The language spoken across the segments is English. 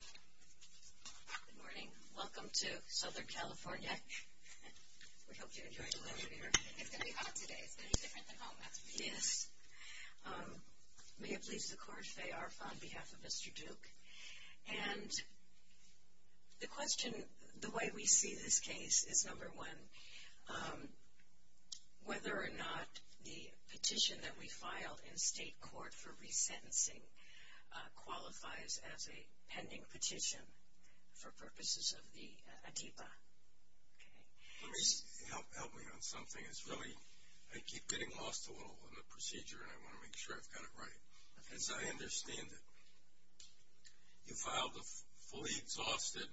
Good morning. Welcome to Southern California. We hope you enjoy the weather here. It's going to be hot today. It's going to be different than home. That's for sure. Yes. May it please the Court, Faye Arf on behalf of Mr. Duke. And the question, the way we see this case is number one, whether or not the petition that we filed in state court for resentencing qualifies as a pending petition for purposes of the ACIPA. Let me, help me on something. It's really, I keep getting lost a little in the procedure and I want to make sure I've got it right. As I understand it, you filed a fully exhausted,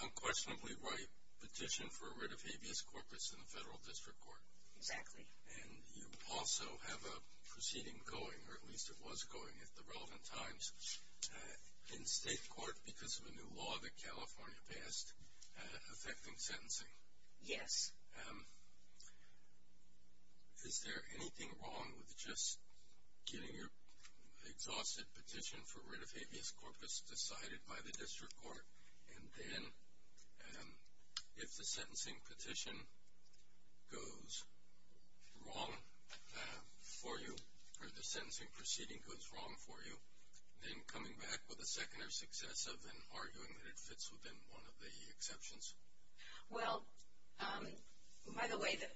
unquestionably ripe petition for a writ of habeas corpus in the federal district court. Exactly. And you also have a proceeding going, or at least it was going at the relevant times, in state court because of a new law that California passed affecting sentencing. Yes. Is there anything wrong with just getting your exhausted petition for writ of habeas corpus decided by the district court and then if the sentencing petition goes wrong for you, or the sentencing proceeding goes wrong for you, then coming back with a second or successive and arguing that it fits within one of the exceptions? Well, by the way, the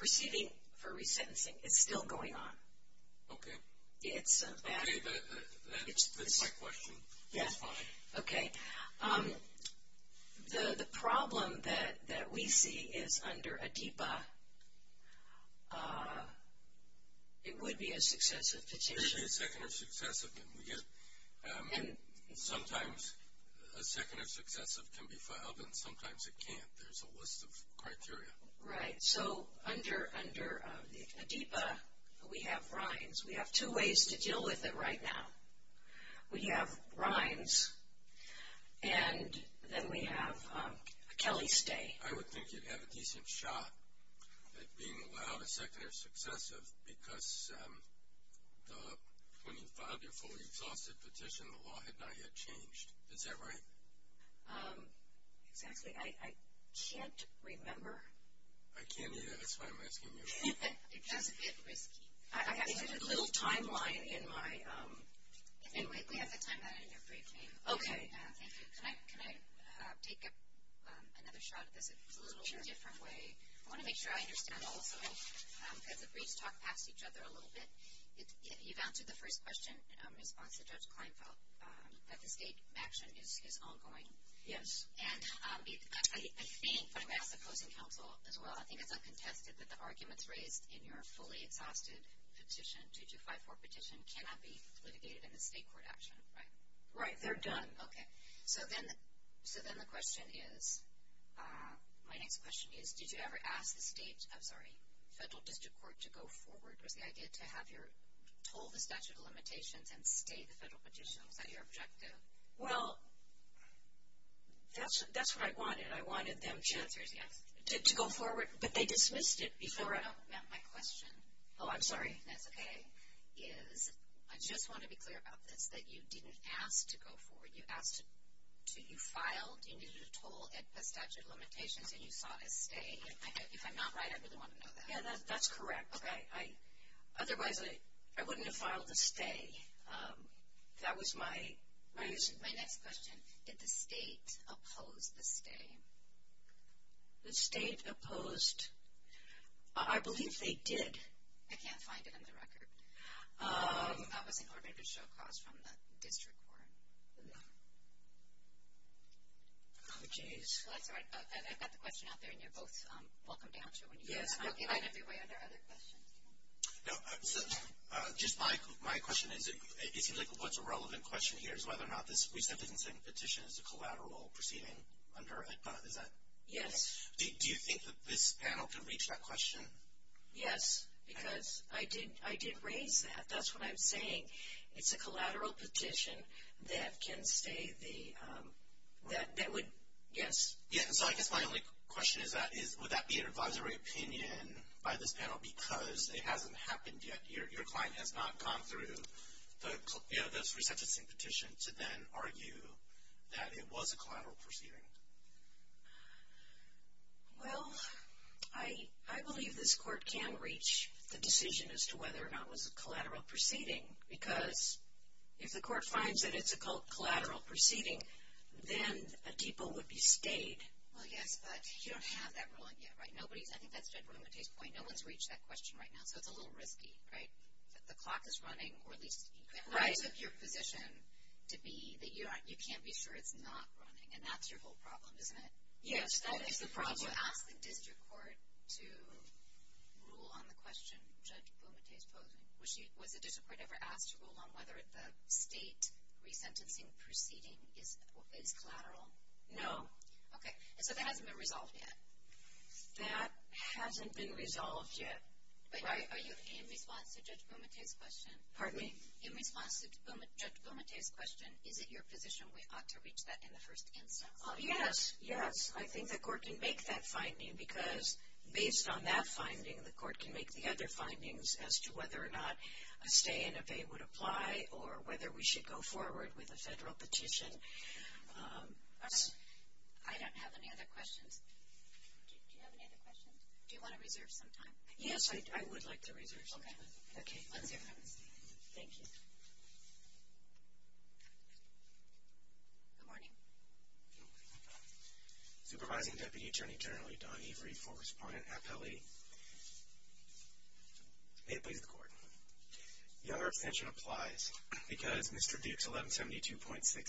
proceeding for resentencing is still going on. Okay. It's a fact. Okay, that fits my question. That's fine. Okay. The problem that we see is under ADEPA, it would be a successive petition. It would be a second or successive. Sometimes a second or successive can be filed and sometimes it can't. There's a list of criteria. Right. So under ADEPA, we have rhymes. We have two ways to deal with it right now. We have rhymes and then we have a Kelly stay. I would think you'd have a decent shot at being allowed a second or successive because when you filed your fully exhausted petition, the law had not yet changed. Is that right? Exactly. I can't remember. I can't either. That's why I'm asking you. It's just a bit risky. I have a little timeline in my. We have the timeline in your briefing. Okay. Thank you. Can I take another shot at this? It's a little different way. I want to make sure I understand also. Because the briefs talk past each other a little bit. You've answered the first question in response to Judge Kleinfeld, that the state action is ongoing. Yes. And I think when I'm asking the opposing counsel as well, I think it's uncontested that the arguments raised in your fully exhausted petition, 2254 petition, cannot be litigated in the state court action, right? Right. They're done. Okay. So then the question is, my next question is, did you ever ask the state, I'm sorry, federal district court to go forward? Was the idea to have your, told the statute of limitations and state the federal petition? Was that your objective? Well, that's what I wanted. I wanted them to go forward. But they dismissed it before. No, no, no. My question. Oh, I'm sorry. That's okay. Is, I just want to be clear about this, that you didn't ask to go forward. You asked to, you filed, you needed to toll at the statute of limitations, and you sought a stay. If I'm not right, I really want to know that. Yeah, that's correct. Otherwise, I wouldn't have filed a stay. That was my issue. My next question, did the state oppose the stay? The state opposed. I believe they did. I can't find it in the record. That was in order to show cause from the district court. Oh, geez. Well, that's all right. I've got the question out there, and you're both welcome to answer it when you get it. I don't have your way under other questions. No, just my question is, it seems like what's a relevant question here is whether or not this resentencing petition is a collateral proceeding under EDPA. Is that correct? Yes. Do you think that this panel can reach that question? Yes, because I did raise that. That's what I'm saying. It's a collateral petition that can stay the, that would, yes. Yeah, so I guess my only question is that, would that be an advisory opinion by this panel because it hasn't happened yet. Your client has not gone through the resentencing petition to then argue that it was a collateral proceeding. Well, I believe this court can reach the decision as to whether or not it was a collateral proceeding because if the court finds that it's a collateral proceeding, then a DEPA would be stayed. Well, yes, but you don't have that ruling yet, right? Nobody's, I think that's Judge Romantay's point. Right now, so it's a little risky, right? The clock is running or at least, what is your position to be that you can't be sure it's not running and that's your whole problem, isn't it? Yes, that is the problem. Did you ask the district court to rule on the question Judge Romantay is posing? Was the district court ever asked to rule on whether the state resentencing proceeding is collateral? No. Okay, so that hasn't been resolved yet. That hasn't been resolved yet, right? Are you in response to Judge Romantay's question? Pardon me? In response to Judge Romantay's question, is it your position we ought to reach that in the first instance? Yes, yes. I think the court can make that finding because based on that finding, the court can make the other findings as to whether or not a stay and a pay would apply or whether we should go forward with a federal petition. All right. I don't have any other questions. Do you have any other questions? Do you want to reserve some time? Yes, I would like to reserve some time. Okay. Okay. Thank you. Good morning. Supervising Deputy Attorney General Don Every for Respondent Appelli. May it please the Court. Younger abstention applies because Mr. Duke's 1172.6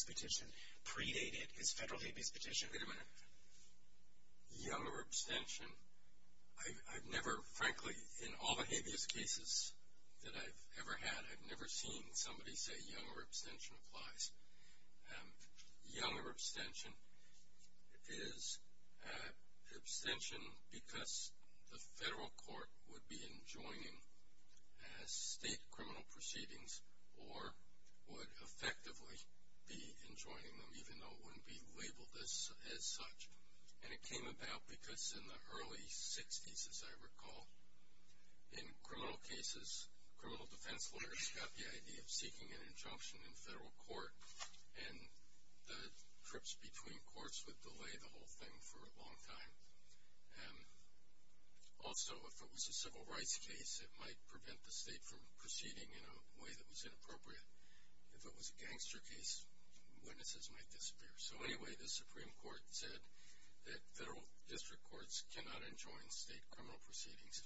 petition predated his federal habeas petition. Wait a minute. Younger abstention? I've never, frankly, in all the habeas cases that I've ever had, I've never seen somebody say younger abstention applies. Younger abstention is abstention because the federal court would be enjoining state criminal proceedings or would effectively be enjoining them, even though it wouldn't be labeled as such. And it came about because in the early 60s, as I recall, in criminal cases, criminal defense lawyers got the idea of seeking an injunction in federal court, and the trips between courts would delay the whole thing for a long time. Also, if it was a civil rights case, it might prevent the state from proceeding in a way that was inappropriate. If it was a gangster case, witnesses might disappear. So anyway, the Supreme Court said that federal district courts cannot enjoin state criminal proceedings.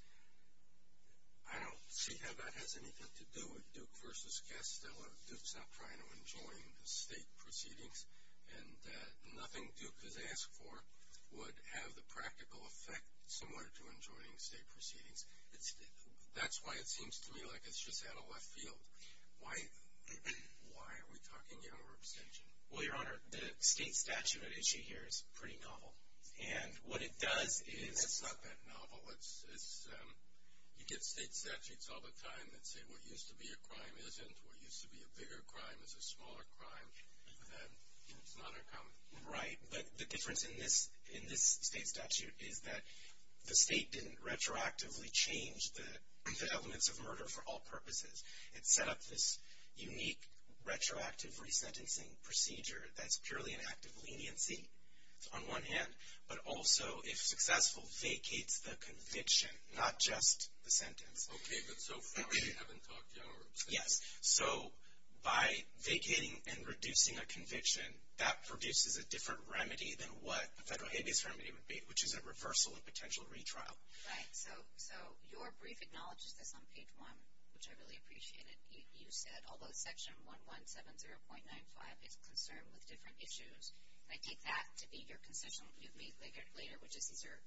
I don't see how that has anything to do with Duke v. Castillo. Duke's not trying to enjoin state proceedings, and nothing Duke has asked for would have the practical effect similar to enjoining state proceedings. That's why it seems to me like it's just out of left field. Why are we talking younger abstention? Well, Your Honor, the state statute at issue here is pretty novel. And what it does is— It's not that novel. You get state statutes all the time that say what used to be a crime isn't, what used to be a bigger crime is a smaller crime, and it's not uncommon. Right, but the difference in this state statute is that the state didn't retroactively change the elements of murder for all purposes. It set up this unique retroactive resentencing procedure that's purely an act of leniency on one hand, but also, if successful, vacates the conviction, not just the sentence. Okay, but so far we haven't talked younger abstention. Yes, so by vacating and reducing a conviction, that produces a different remedy than what a federal habeas remedy would be, which is a reversal and potential retrial. Right, so your brief acknowledges this on page 1, which I really appreciate it. You said, although Section 1170.95 is concerned with different issues, I take that to be your concession. You've made clear later, which is these are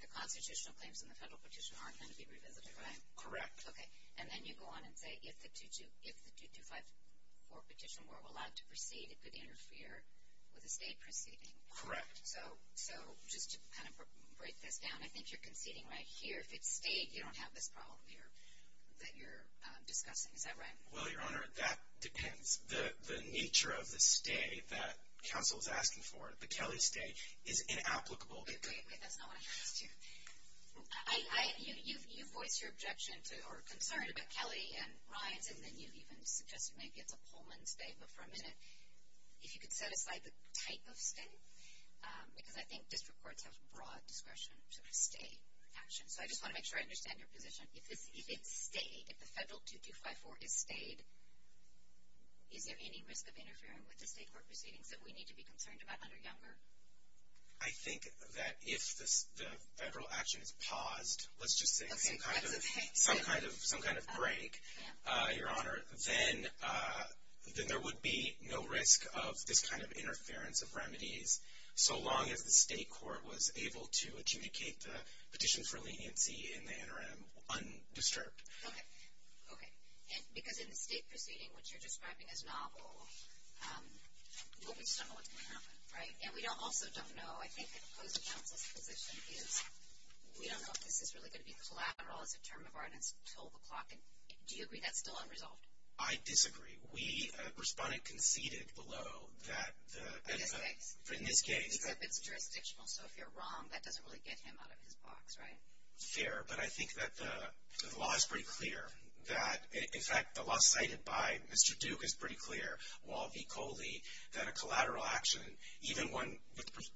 the constitutional claims and the federal petition aren't going to be revisited, right? Correct. Okay, and then you go on and say if the 2254 petition were allowed to proceed, it could interfere with a state proceeding. Correct. So just to kind of break this down, I think you're conceding right here. If it's state, you don't have this problem here that you're discussing. Is that right? Well, Your Honor, that depends. The nature of the stay that counsel is asking for, the Kelly stay, is inapplicable. Wait, wait, wait, that's not what I asked you. You voiced your objection or concern about Kelly and Ryan's, and then you even suggested maybe it's a Pullman stay, but for a minute, if you could set aside the type of stay, because I think district courts have broad discretion to have a state action. So I just want to make sure I understand your position. If it's state, if the federal 2254 is state, is there any risk of interfering with the state court proceedings that we need to be concerned about under Younger? I think that if the federal action is paused, let's just say some kind of break, Your Honor, then there would be no risk of this kind of interference of remedies so long as the state court was able to adjudicate the petition for leniency in the interim undisturbed. Okay. Okay. Because in the state proceeding, which you're describing as novel, well, we just don't know what's going to happen, right? And we also don't know, I think, the opposing counsel's position is we don't know if this is really going to be collateral as a term of ordinance until the clock ends. Do you agree that's still unresolved? I disagree. We, a respondent, conceded below that the benefit. In this case. In this case. Except it's jurisdictional, so if you're wrong, that doesn't really get him out of his box, right? Fair, but I think that the law is pretty clear. In fact, the law cited by Mr. Duke is pretty clear. Wall v. Coley, that a collateral action, even one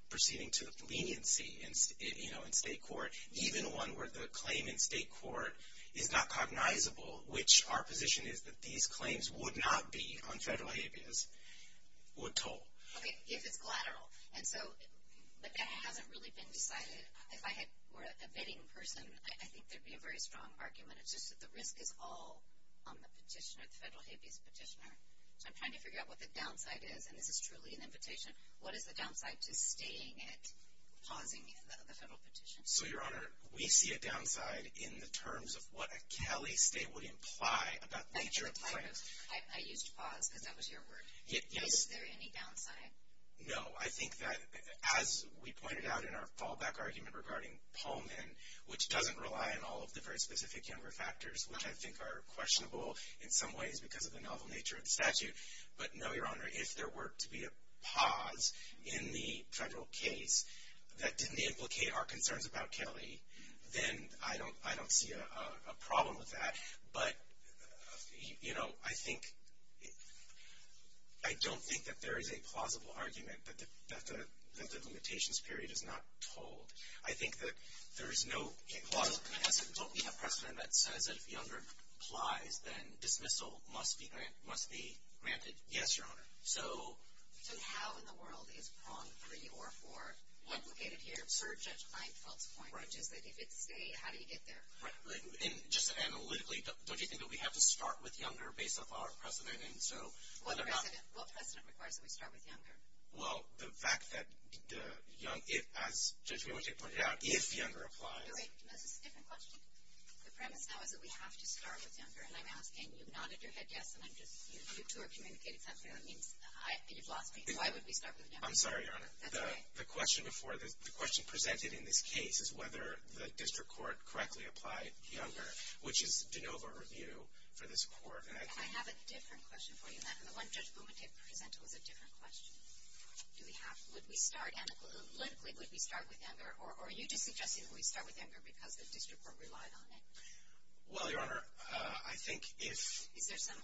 proceeding to leniency in state court, even one where the claim in state court is not cognizable, which our position is that these claims would not be on federal habeas, would toll. Okay, if it's collateral. And so, but that hasn't really been decided. If I were a bidding person, I think there would be a very strong argument. It's just that the risk is all on the petitioner, the federal habeas petitioner. So I'm trying to figure out what the downside is, and this is truly an invitation. What is the downside to staying at pausing the federal petition? So, Your Honor, we see a downside in the terms of what a Kelly stay would imply. I used pause because that was your word. Is there any downside? No. I think that, as we pointed out in our fallback argument regarding Pullman, which doesn't rely on all of the very specific younger factors, which I think are questionable in some ways because of the novel nature of the statute. But, no, Your Honor, if there were to be a pause in the federal case that didn't implicate our concerns about Kelly, then I don't see a problem with that. But, you know, I think, I don't think that there is a plausible argument that the limitations period is not told. I think that there is no plausible precedent. Don't we have precedent that says that if younger applies, then dismissal must be granted? Yes, Your Honor. So how in the world is prong three or four implicated here, per Judge Leinfeld's point, which is that if it's a stay, how do you get there? Right. And just analytically, don't you think that we have to start with younger based off our precedent? What precedent requires that we start with younger? Well, the fact that the young, as Judge Bumate pointed out, if younger applies. No, wait. That's a different question. The premise now is that we have to start with younger, and I'm asking you nodded your head yes, and I'm just, you two are communicating something that means you've lost me. Why would we start with younger? I'm sorry, Your Honor. That's all right. The question before this, the question presented in this case, is whether the district court correctly applied younger, which is de novo review for this court. I have a different question for you, and the one Judge Bumate presented was a different question. Do we have, would we start, analytically, would we start with younger, or are you just suggesting that we start with younger because the district court relied on it? Well, Your Honor, I think if. Is there some,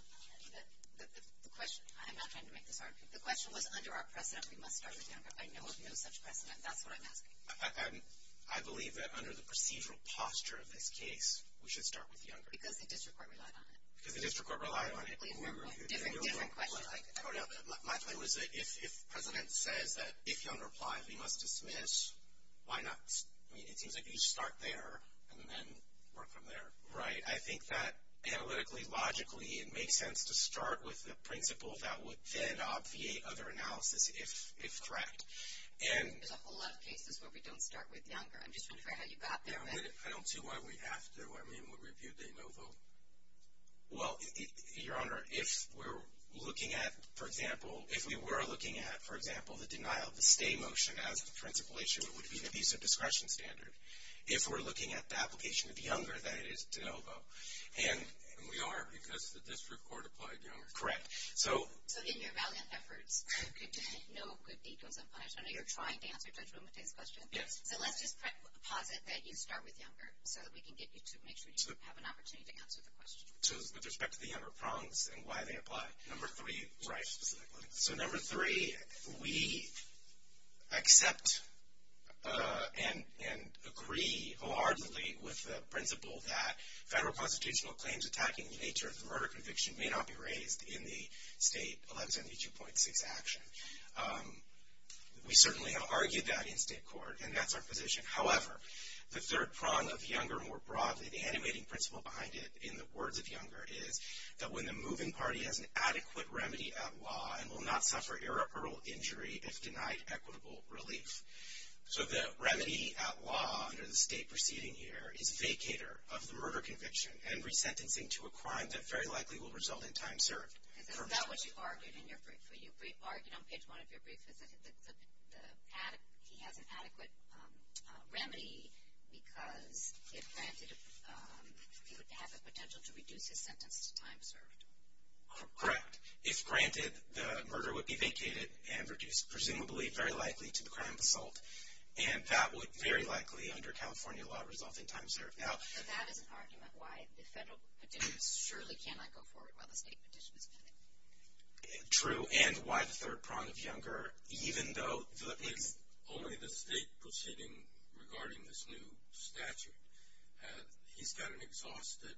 the question, I'm not trying to make this hard. The question was under our precedent, we must start with younger. I know of no such precedent. That's what I'm asking. I believe that under the procedural posture of this case, we should start with younger. Because the district court relied on it. Because the district court relied on it. Different questions. I don't know. My point was that if precedent says that if younger applies, we must dismiss, why not? I mean, it seems like you start there and then work from there. Right. I think that analytically, logically, it makes sense to start with the principle that would then obviate other analysis if correct. There's a whole lot of cases where we don't start with younger. I'm just wondering how you got there. I don't see why we have to. I mean, we reviewed de novo. Well, Your Honor, if we're looking at, for example, if we were looking at, for example, the denial of the stay motion as a principle issue, it would be an abuse of discretion standard. If we're looking at the application of younger, then it is de novo. And we are because the district court applied younger. Correct. So in your valiant efforts, no good deed goes unpunished. I know you're trying to answer Judge Lomate's question. Yes. So let's just posit that you start with younger so that we can get you to make sure you have an opportunity to answer the question. So with respect to the younger prongs and why they apply. Number three. Right. So number three, we accept and agree wholeheartedly with the principle that federal constitutional claims attacking the nature of the murder conviction may not be raised in the state 1172.6 action. We certainly have argued that in state court, and that's our position. However, the third prong of younger more broadly, the animating principle behind it in the words of younger is that when the moving party has an adequate remedy at law and will not suffer irreparable injury if denied equitable relief. So the remedy at law under the state proceeding here is vacator of the murder conviction and resentencing to a crime that very likely will result in time served. Is that what you've argued in your brief? You've argued on page one of your brief that he has an adequate remedy because he would have the potential to reduce his sentence to time served. Correct. If granted, the murder would be vacated and reduced presumably very likely to the crime of assault, and that would very likely under California law result in time served. So that is an argument why the federal petition surely cannot go forward while the state petition is pending. True. And why the third prong of younger, even though it's only the state proceeding regarding this new statute, he's got an exhausted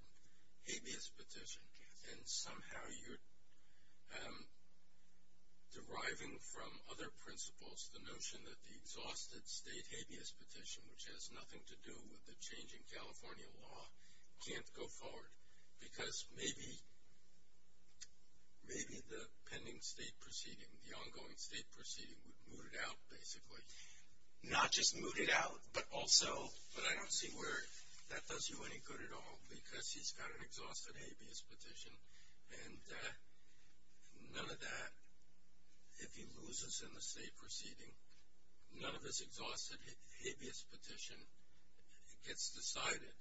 habeas petition, and somehow you're deriving from other principles the notion that the exhausted state habeas petition, which has nothing to do with the change in California law, can't go forward because maybe the pending state proceeding, the ongoing state proceeding, would moot it out basically. Not just moot it out, but also, but I don't see where that does you any good at all because he's got an exhausted habeas petition, and none of that, if he loses in the state proceeding, none of this exhausted habeas petition gets decided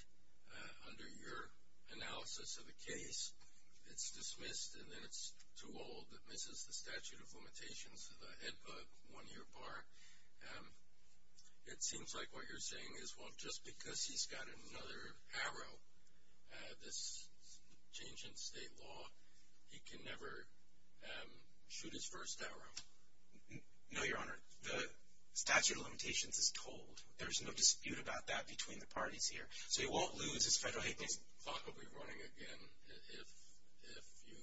under your analysis of the case. It's dismissed, and then it's too old. It misses the statute of limitations of the HEDPA one-year bar. It seems like what you're saying is, well, just because he's got another arrow, this change in state law, he can never shoot his first arrow. No, Your Honor. The statute of limitations is told. There's no dispute about that between the parties here. So he won't lose his federal habeas. The clock will be running again if you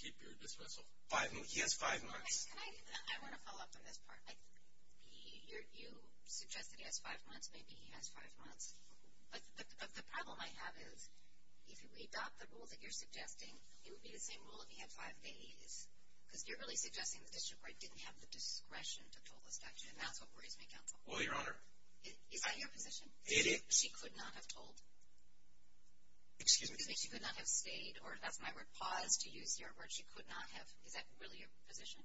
keep your dismissal. He has five months. I want to follow up on this part. You suggest that he has five months. Maybe he has five months. But the problem I have is if you adopt the rule that you're suggesting, it would be the same rule if he had five days because you're really suggesting the district court didn't have the discretion to pull the statute, and that's what worries me, Counsel. Well, Your Honor. Is that your position? It is. She could not have told? Excuse me? She could not have stayed, or that's my word, paused, to use your word. She could not have. Is that really your position?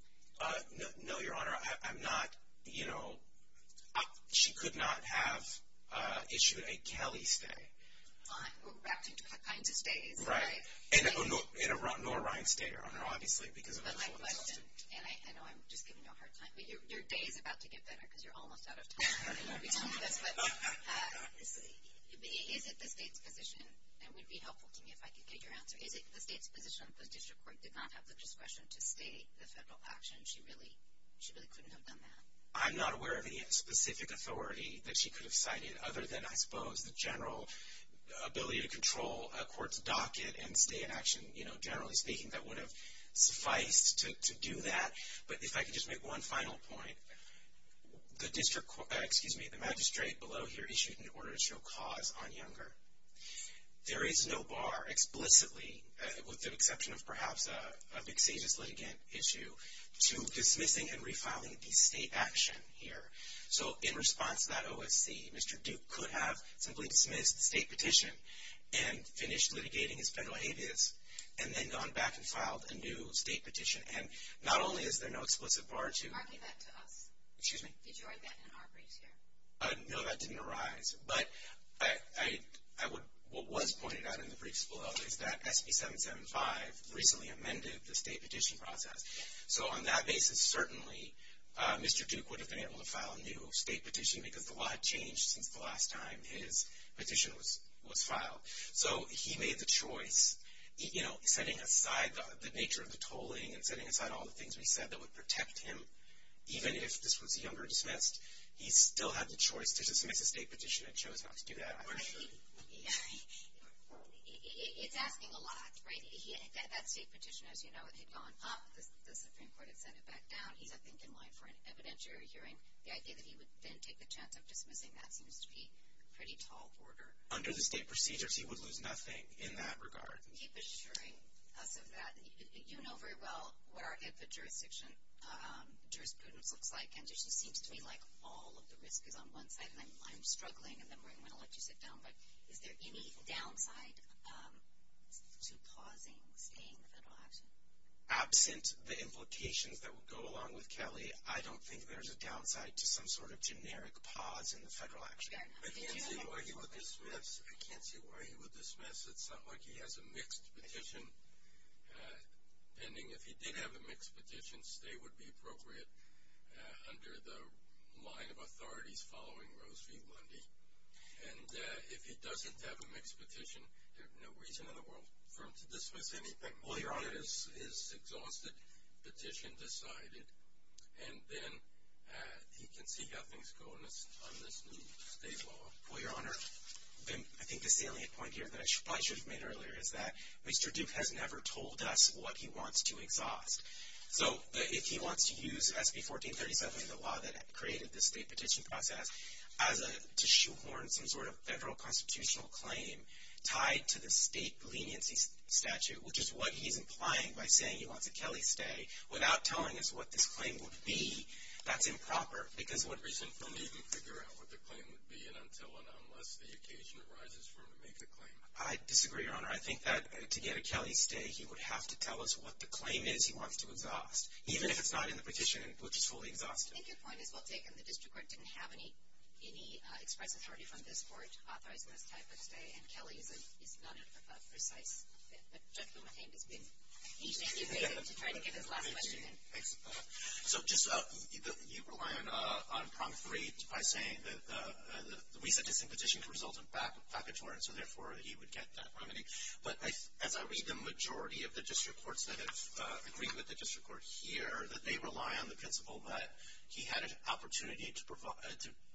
No, Your Honor. Your Honor, I'm not, you know, she could not have issued a Kelly stay. Back to kinds of stays. Right. Nor a Ryan stay, Your Honor, obviously. But my question, and I know I'm just giving you a hard time, but your day is about to get better because you're almost out of time. Is it the state's position, and it would be helpful to me if I could get your answer, is it the state's position that the district court did not have the discretion to state the federal action? She really couldn't have done that. I'm not aware of any specific authority that she could have cited other than, I suppose, the general ability to control a court's docket and stay in action. You know, generally speaking, that would have sufficed to do that. But if I could just make one final point. The magistrate below here issued an order to show cause on Younger. There is no bar explicitly, with the exception of perhaps a vexatious litigant issue, to dismissing and refiling the state action here. So in response to that OSC, Mr. Duke could have simply dismissed the state petition and finished litigating his federal habeas and then gone back and filed a new state petition. And not only is there no explicit bar to. Marking that to us. Excuse me? Did you write that in our briefs here? No, that didn't arise. But what was pointed out in the briefs below is that SB 775 recently amended the state petition process. So on that basis, certainly Mr. Duke would have been able to file a new state petition because the law had changed since the last time his petition was filed. So he made the choice. You know, setting aside the nature of the tolling and setting aside all the things we said that would protect him, even if this was younger dismissed, he still had the choice to dismiss the state petition and chose not to do that. It's asking a lot, right? That state petition, as you know, had gone up. The Supreme Court had sent it back down. He's, I think, in line for an evidentiary hearing. The idea that he would then take the chance of dismissing that seems to be pretty tall order. Under the state procedures, he would lose nothing in that regard. Keep assuring us of that. You know very well what our jurisdiction jurisprudence looks like, and it just seems to me like all of the risk is on one side, and I'm struggling and then we're going to let you sit down. But is there any downside to pausing, staying in the federal action? Absent the implications that would go along with Kelly, I don't think there's a downside to some sort of generic pause in the federal action. Fair enough. I can't see why he would dismiss. It's not like he has a mixed petition pending. If he did have a mixed petition, stay would be appropriate under the line of authorities following Rose v. Lundy. And if he doesn't have a mixed petition, there's no reason in the world for him to dismiss anything. Well, Your Honor. His exhausted petition decided, and then he can see how things go on this new state law. Well, Your Honor, I think the salient point here that I probably should have made earlier is that Mr. Duke has never told us what he wants to exhaust. So if he wants to use SB 1437 in the law that created the state petition process to shoehorn some sort of federal constitutional claim tied to the state leniency statute, which is what he's implying by saying he wants a Kelly stay, without telling us what this claim would be, that's improper. There's no reason for him to even figure out what the claim would be until and unless the occasion arises for him to make the claim. I disagree, Your Honor. I think that to get a Kelly stay, he would have to tell us what the claim is he wants to exhaust, even if it's not in the petition, which is fully exhaustive. I think your point is well taken. The district court didn't have any express authority from this court authorizing this type of stay, and Kelly is not a precise fit. But Judge Wilmerheim has been eagerly waiting to try to get his last question in. Thanks. So just you rely on prompte by saying that we set this in petition to result in vacatory, and so therefore he would get that remedy. But as I read the majority of the district courts that have agreed with the district court here, that they rely on the principle that he had an opportunity to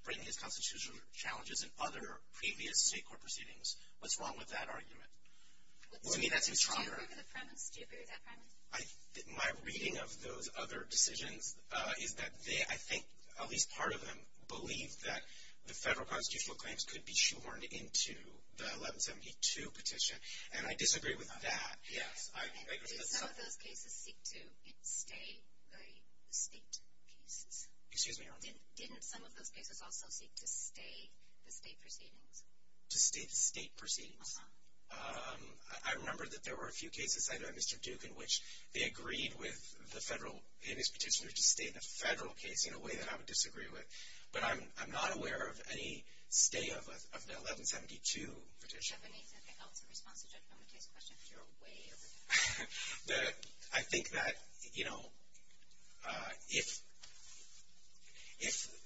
bring his constitutional challenges in other previous state court proceedings. What's wrong with that argument? To me that seems stronger. Do you approve of the premise? Do you approve of that premise? My reading of those other decisions is that they, I think at least part of them, believe that the federal constitutional claims could be shorn into the 1172 petition, and I disagree with that. Did some of those cases seek to stay the state cases? Excuse me? Didn't some of those cases also seek to stay the state proceedings? To stay the state proceedings? Uh-huh. I remember that there were a few cases, either at Mr. Duke, in which they agreed with the federal amicus petitioner to stay the federal case, in a way that I would disagree with. But I'm not aware of any stay of the 1172 petition. Do you have anything else in response to Judge Bomette's question? You're way over time. I think that, you know, if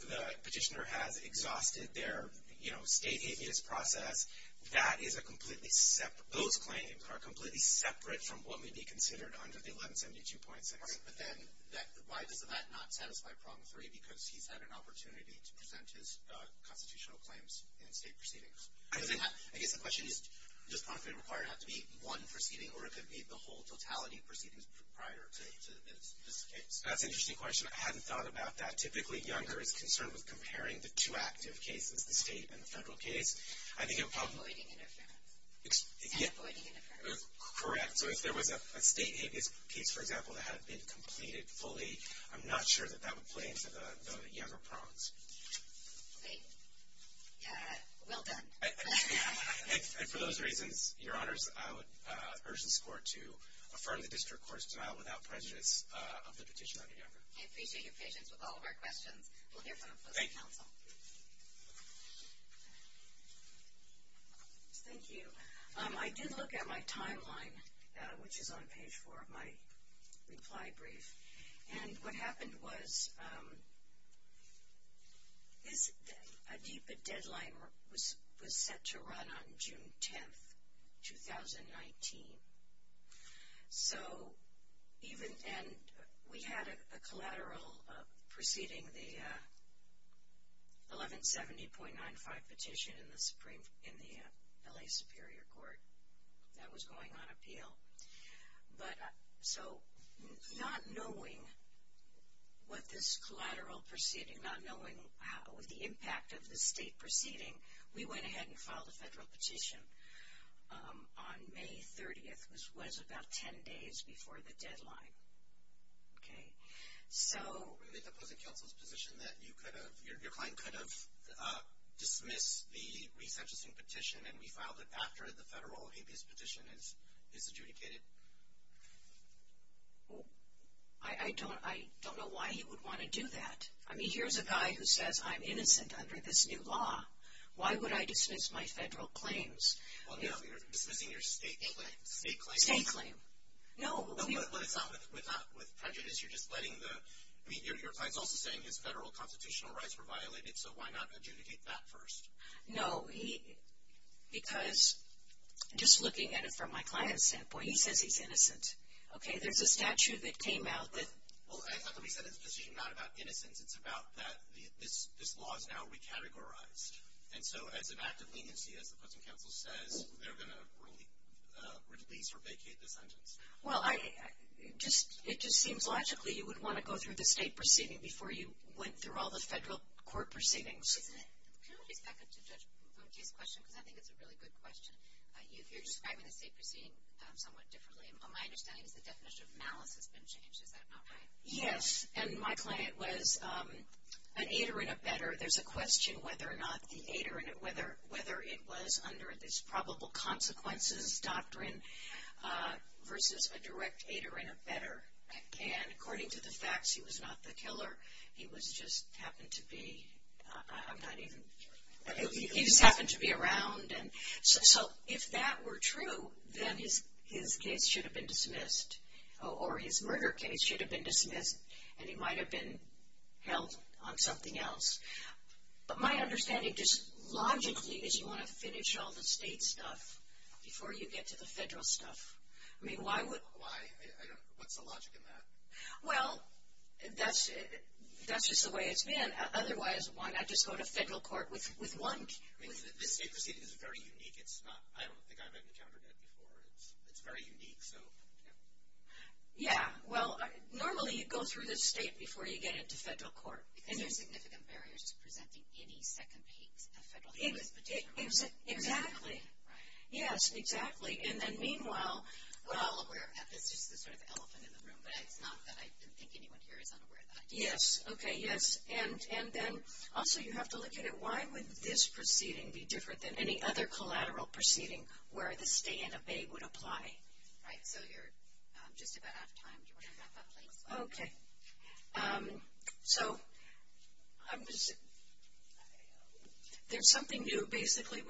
the petitioner has exhausted their, you know, state amicus process, that is a completely separate, those claims are completely separate from what may be considered under the 1172.6. All right. But then, why does that not satisfy problem three? Because he's had an opportunity to present his constitutional claims in state proceedings. I guess the question is, does promptly required have to be one proceeding, or it could be the whole totality of proceedings prior to this case? That's an interesting question. I hadn't thought about that. Typically, Younger is concerned with comparing the two active cases, the state and the federal case. And avoiding interference. And avoiding interference. Correct. So if there was a state amicus case, for example, that had been completed fully, I'm not sure that that would play into the Younger prongs. Great. Yeah. Well done. And for those reasons, Your Honors, I would urge this court to affirm the district court's denial without prejudice of the petition under Younger. I appreciate your patience with all of our questions. We'll hear from the public counsel. Thank you. Thank you. I did look at my timeline, which is on page four of my reply brief. And what happened was a DPA deadline was set to run on June 10th, 2019. And we had a collateral preceding the 1170.95 petition in the L.A. Superior Court that was going on appeal. So not knowing what this collateral proceeding, not knowing the impact of the state proceeding, we went ahead and filed a federal petition on May 30th, which was about ten days before the deadline. Okay. So. Were they proposing counsel's position that you could have, your client could have dismissed the resentencing petition and we filed it after the federal amicus petition is adjudicated? I don't know why he would want to do that. I mean, here's a guy who says I'm innocent under this new law. Why would I dismiss my federal claims? Well, no. You're dismissing your state claim. State claim. No. But it's not with prejudice. You're just letting the, I mean, your client's also saying his federal constitutional rights were violated. So why not adjudicate that first? No. Because just looking at it from my client's standpoint, he says he's innocent. Okay. There's a statute that came out that. Well, I thought that we said it's a decision not about innocence. It's about that this law is now recategorized. And so as an act of leniency, as the custom counsel says, they're going to release or vacate the sentence. Well, it just seems logically you would want to go through the state proceeding before you went through all the federal court proceedings. President, can I just back up to Judge Bote's question? Because I think it's a really good question. If you're describing the state proceeding somewhat differently, my understanding is the definition of malice has been changed. Is that not right? Yes. And my client was an aider and a better. There's a question whether or not the aider, whether it was under this probable consequences doctrine versus a direct aider and a better. And according to the facts, he was not the killer. He just happened to be around. So if that were true, then his case should have been dismissed, or his murder case should have been dismissed, and he might have been held on something else. But my understanding just logically is you want to finish all the state stuff before you get to the federal stuff. I mean, why would – Why? What's the logic in that? Well, that's just the way it's been. Otherwise, why not just go to federal court with one – I mean, this state proceeding is very unique. It's not – I don't think I've encountered that before. It's very unique, so, yeah. Yeah. Well, normally you go through the state before you get into federal court. Because there's significant barriers to presenting any second piece of federal – Exactly. Right. Yes, exactly. And then meanwhile – We're all aware of that. It's just the sort of elephant in the room. But it's not that I think anyone here is unaware of that. Yes. Okay, yes. And then also you have to look at it. Why would this proceeding be different than any other collateral proceeding where the stay and abate would apply? Right. So, you're just about out of time. Do you want to wrap up, please? Okay. So, there's something new. Basically,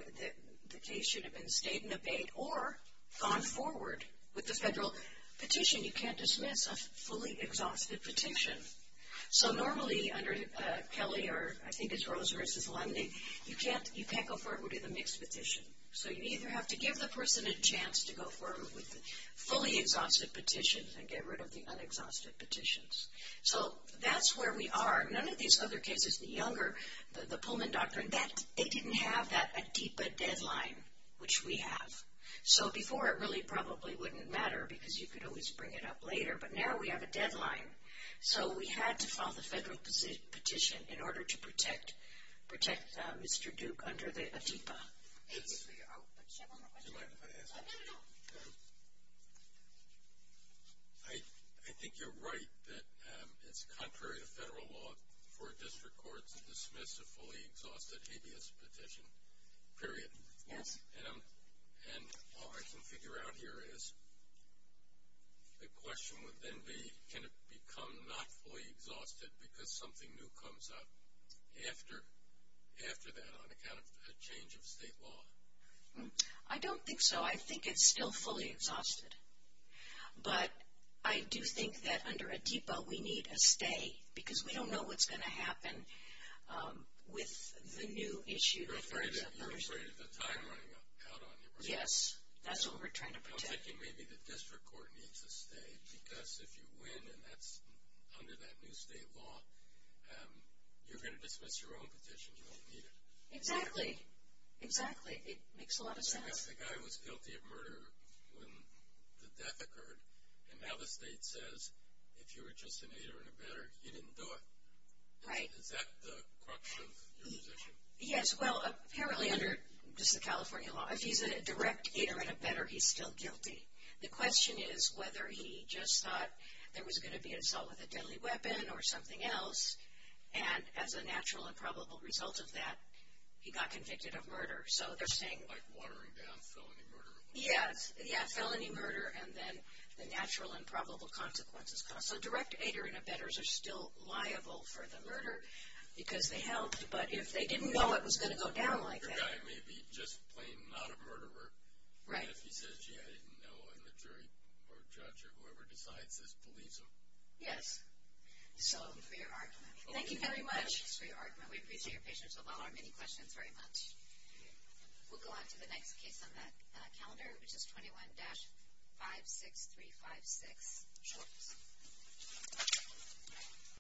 the case should have been stayed and abate or gone forward with the federal petition. You can't dismiss a fully exhausted petition. So, normally, under Kelly or I think it's Rose v. Lundy, you can't go forward with a mixed petition. So, you either have to give the person a chance to go forward with a fully exhausted petition and get rid of the unexhausted petitions. So, that's where we are. None of these other cases, the younger, the Pullman Doctrine, they didn't have a DIPA deadline, which we have. So, before it really probably wouldn't matter because you could always bring it up later. But now we have a deadline. So, we had to file the federal petition in order to protect Mr. Duke under a DIPA. Yes. Do you mind if I ask a question? No, no, no. I think you're right that it's contrary to federal law for a district court to dismiss a fully exhausted habeas petition, period. Yes. And all I can figure out here is the question would then be can it become not fully exhausted because something new comes up after that on account of a change of state law? I don't think so. I think it's still fully exhausted. But I do think that under a DIPA we need a stay because we don't know what's going to happen with the new issue. You're afraid of the time running out on your part. Yes. That's what we're trying to protect. I'm thinking maybe the district court needs a stay because if you win and that's under that new state law, you're going to dismiss your own petition. You won't need it. Exactly. Exactly. It makes a lot of sense. Because the guy was guilty of murder when the death occurred. And now the state says if you were just an aider and abetter, you didn't do it. Right. Is that the crux of your position? Yes. Well, apparently under just the California law, if he's a direct aider and abetter, he's still guilty. The question is whether he just thought there was going to be an assault with a deadly weapon or something else, and as a natural and probable result of that, he got convicted of murder. So they're saying. Like watering down felony murder. Yes. Yeah, felony murder and then the natural and probable consequences. So direct aider and abetters are still liable for the murder because they helped. But if they didn't know it was going to go down like that. The guy may be just plain not a murderer. Right. And if he says, gee, I didn't know, and the jury or judge or whoever decides this believes him. Yes. So for your argument. Thank you very much for your argument. We appreciate your patience with all our many questions very much. We'll go on to the next case on that calendar, which is 21-56356. Sure.